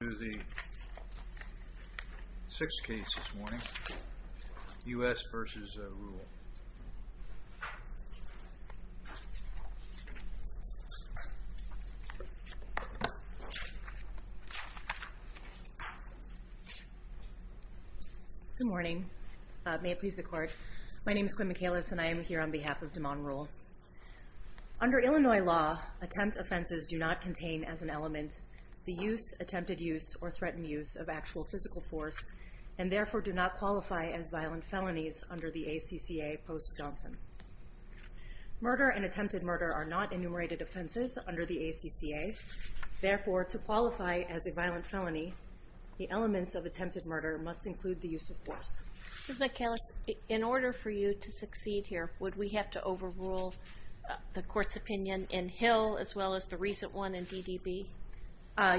We're going to go through the sixth case this morning, U.S. v. Rule. Good morning. May it please the Court. My name is Quinn Michaelis, and I am here on behalf of Demone Rule. Under Illinois law, attempt offenses do not contain as an element the use, attempted use, or threatened use of actual physical force, and therefore do not qualify as violent felonies under the ACCA post-Johnson. Murder and attempted murder are not enumerated offenses under the ACCA. Therefore, to qualify as a violent felony, the elements of attempted murder must include the use of force. Ms. Michaelis, in order for you to succeed here, would we have to overrule the Court's opinion in Hill as well as the recent one in DDB?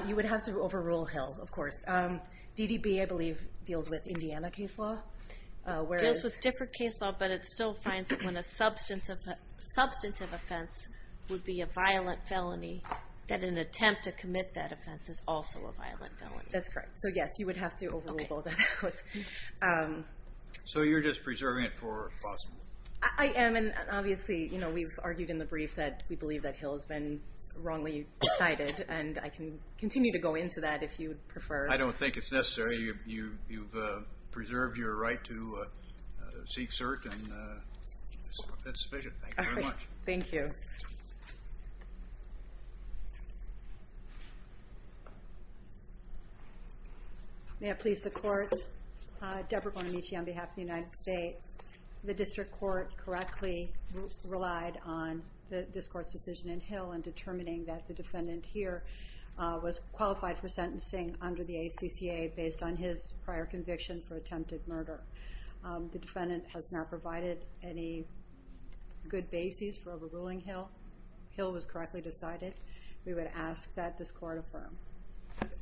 You would have to overrule Hill, of course. DDB, I believe, deals with Indiana case law. It deals with different case law, but it still finds that when a substantive offense would be a violent felony, that an attempt to commit that offense is also a violent felony. That's correct. So, yes, you would have to overrule both of those. So you're just preserving it for possible? I am, and obviously we've argued in the brief that we believe that Hill has been wrongly cited, and I can continue to go into that if you prefer. I don't think it's necessary. You've preserved your right to seek cert, and that's sufficient. Thank you very much. Thank you. Thank you. May it please the Court. Deborah Bonamici on behalf of the United States. The District Court correctly relied on this Court's decision in Hill in determining that the defendant here was qualified for sentencing under the ACCA based on his prior conviction for attempted murder. The defendant has not provided any good basis for overruling Hill. Hill was correctly decided. We would ask that this Court affirm.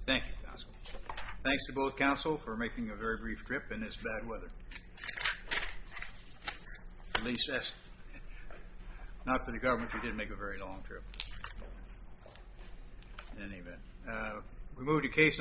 Thank you, counsel. Thanks to both counsel for making a very brief trip in this bad weather. At least, not for the government who did make a very long trip. In any event, we move to case number...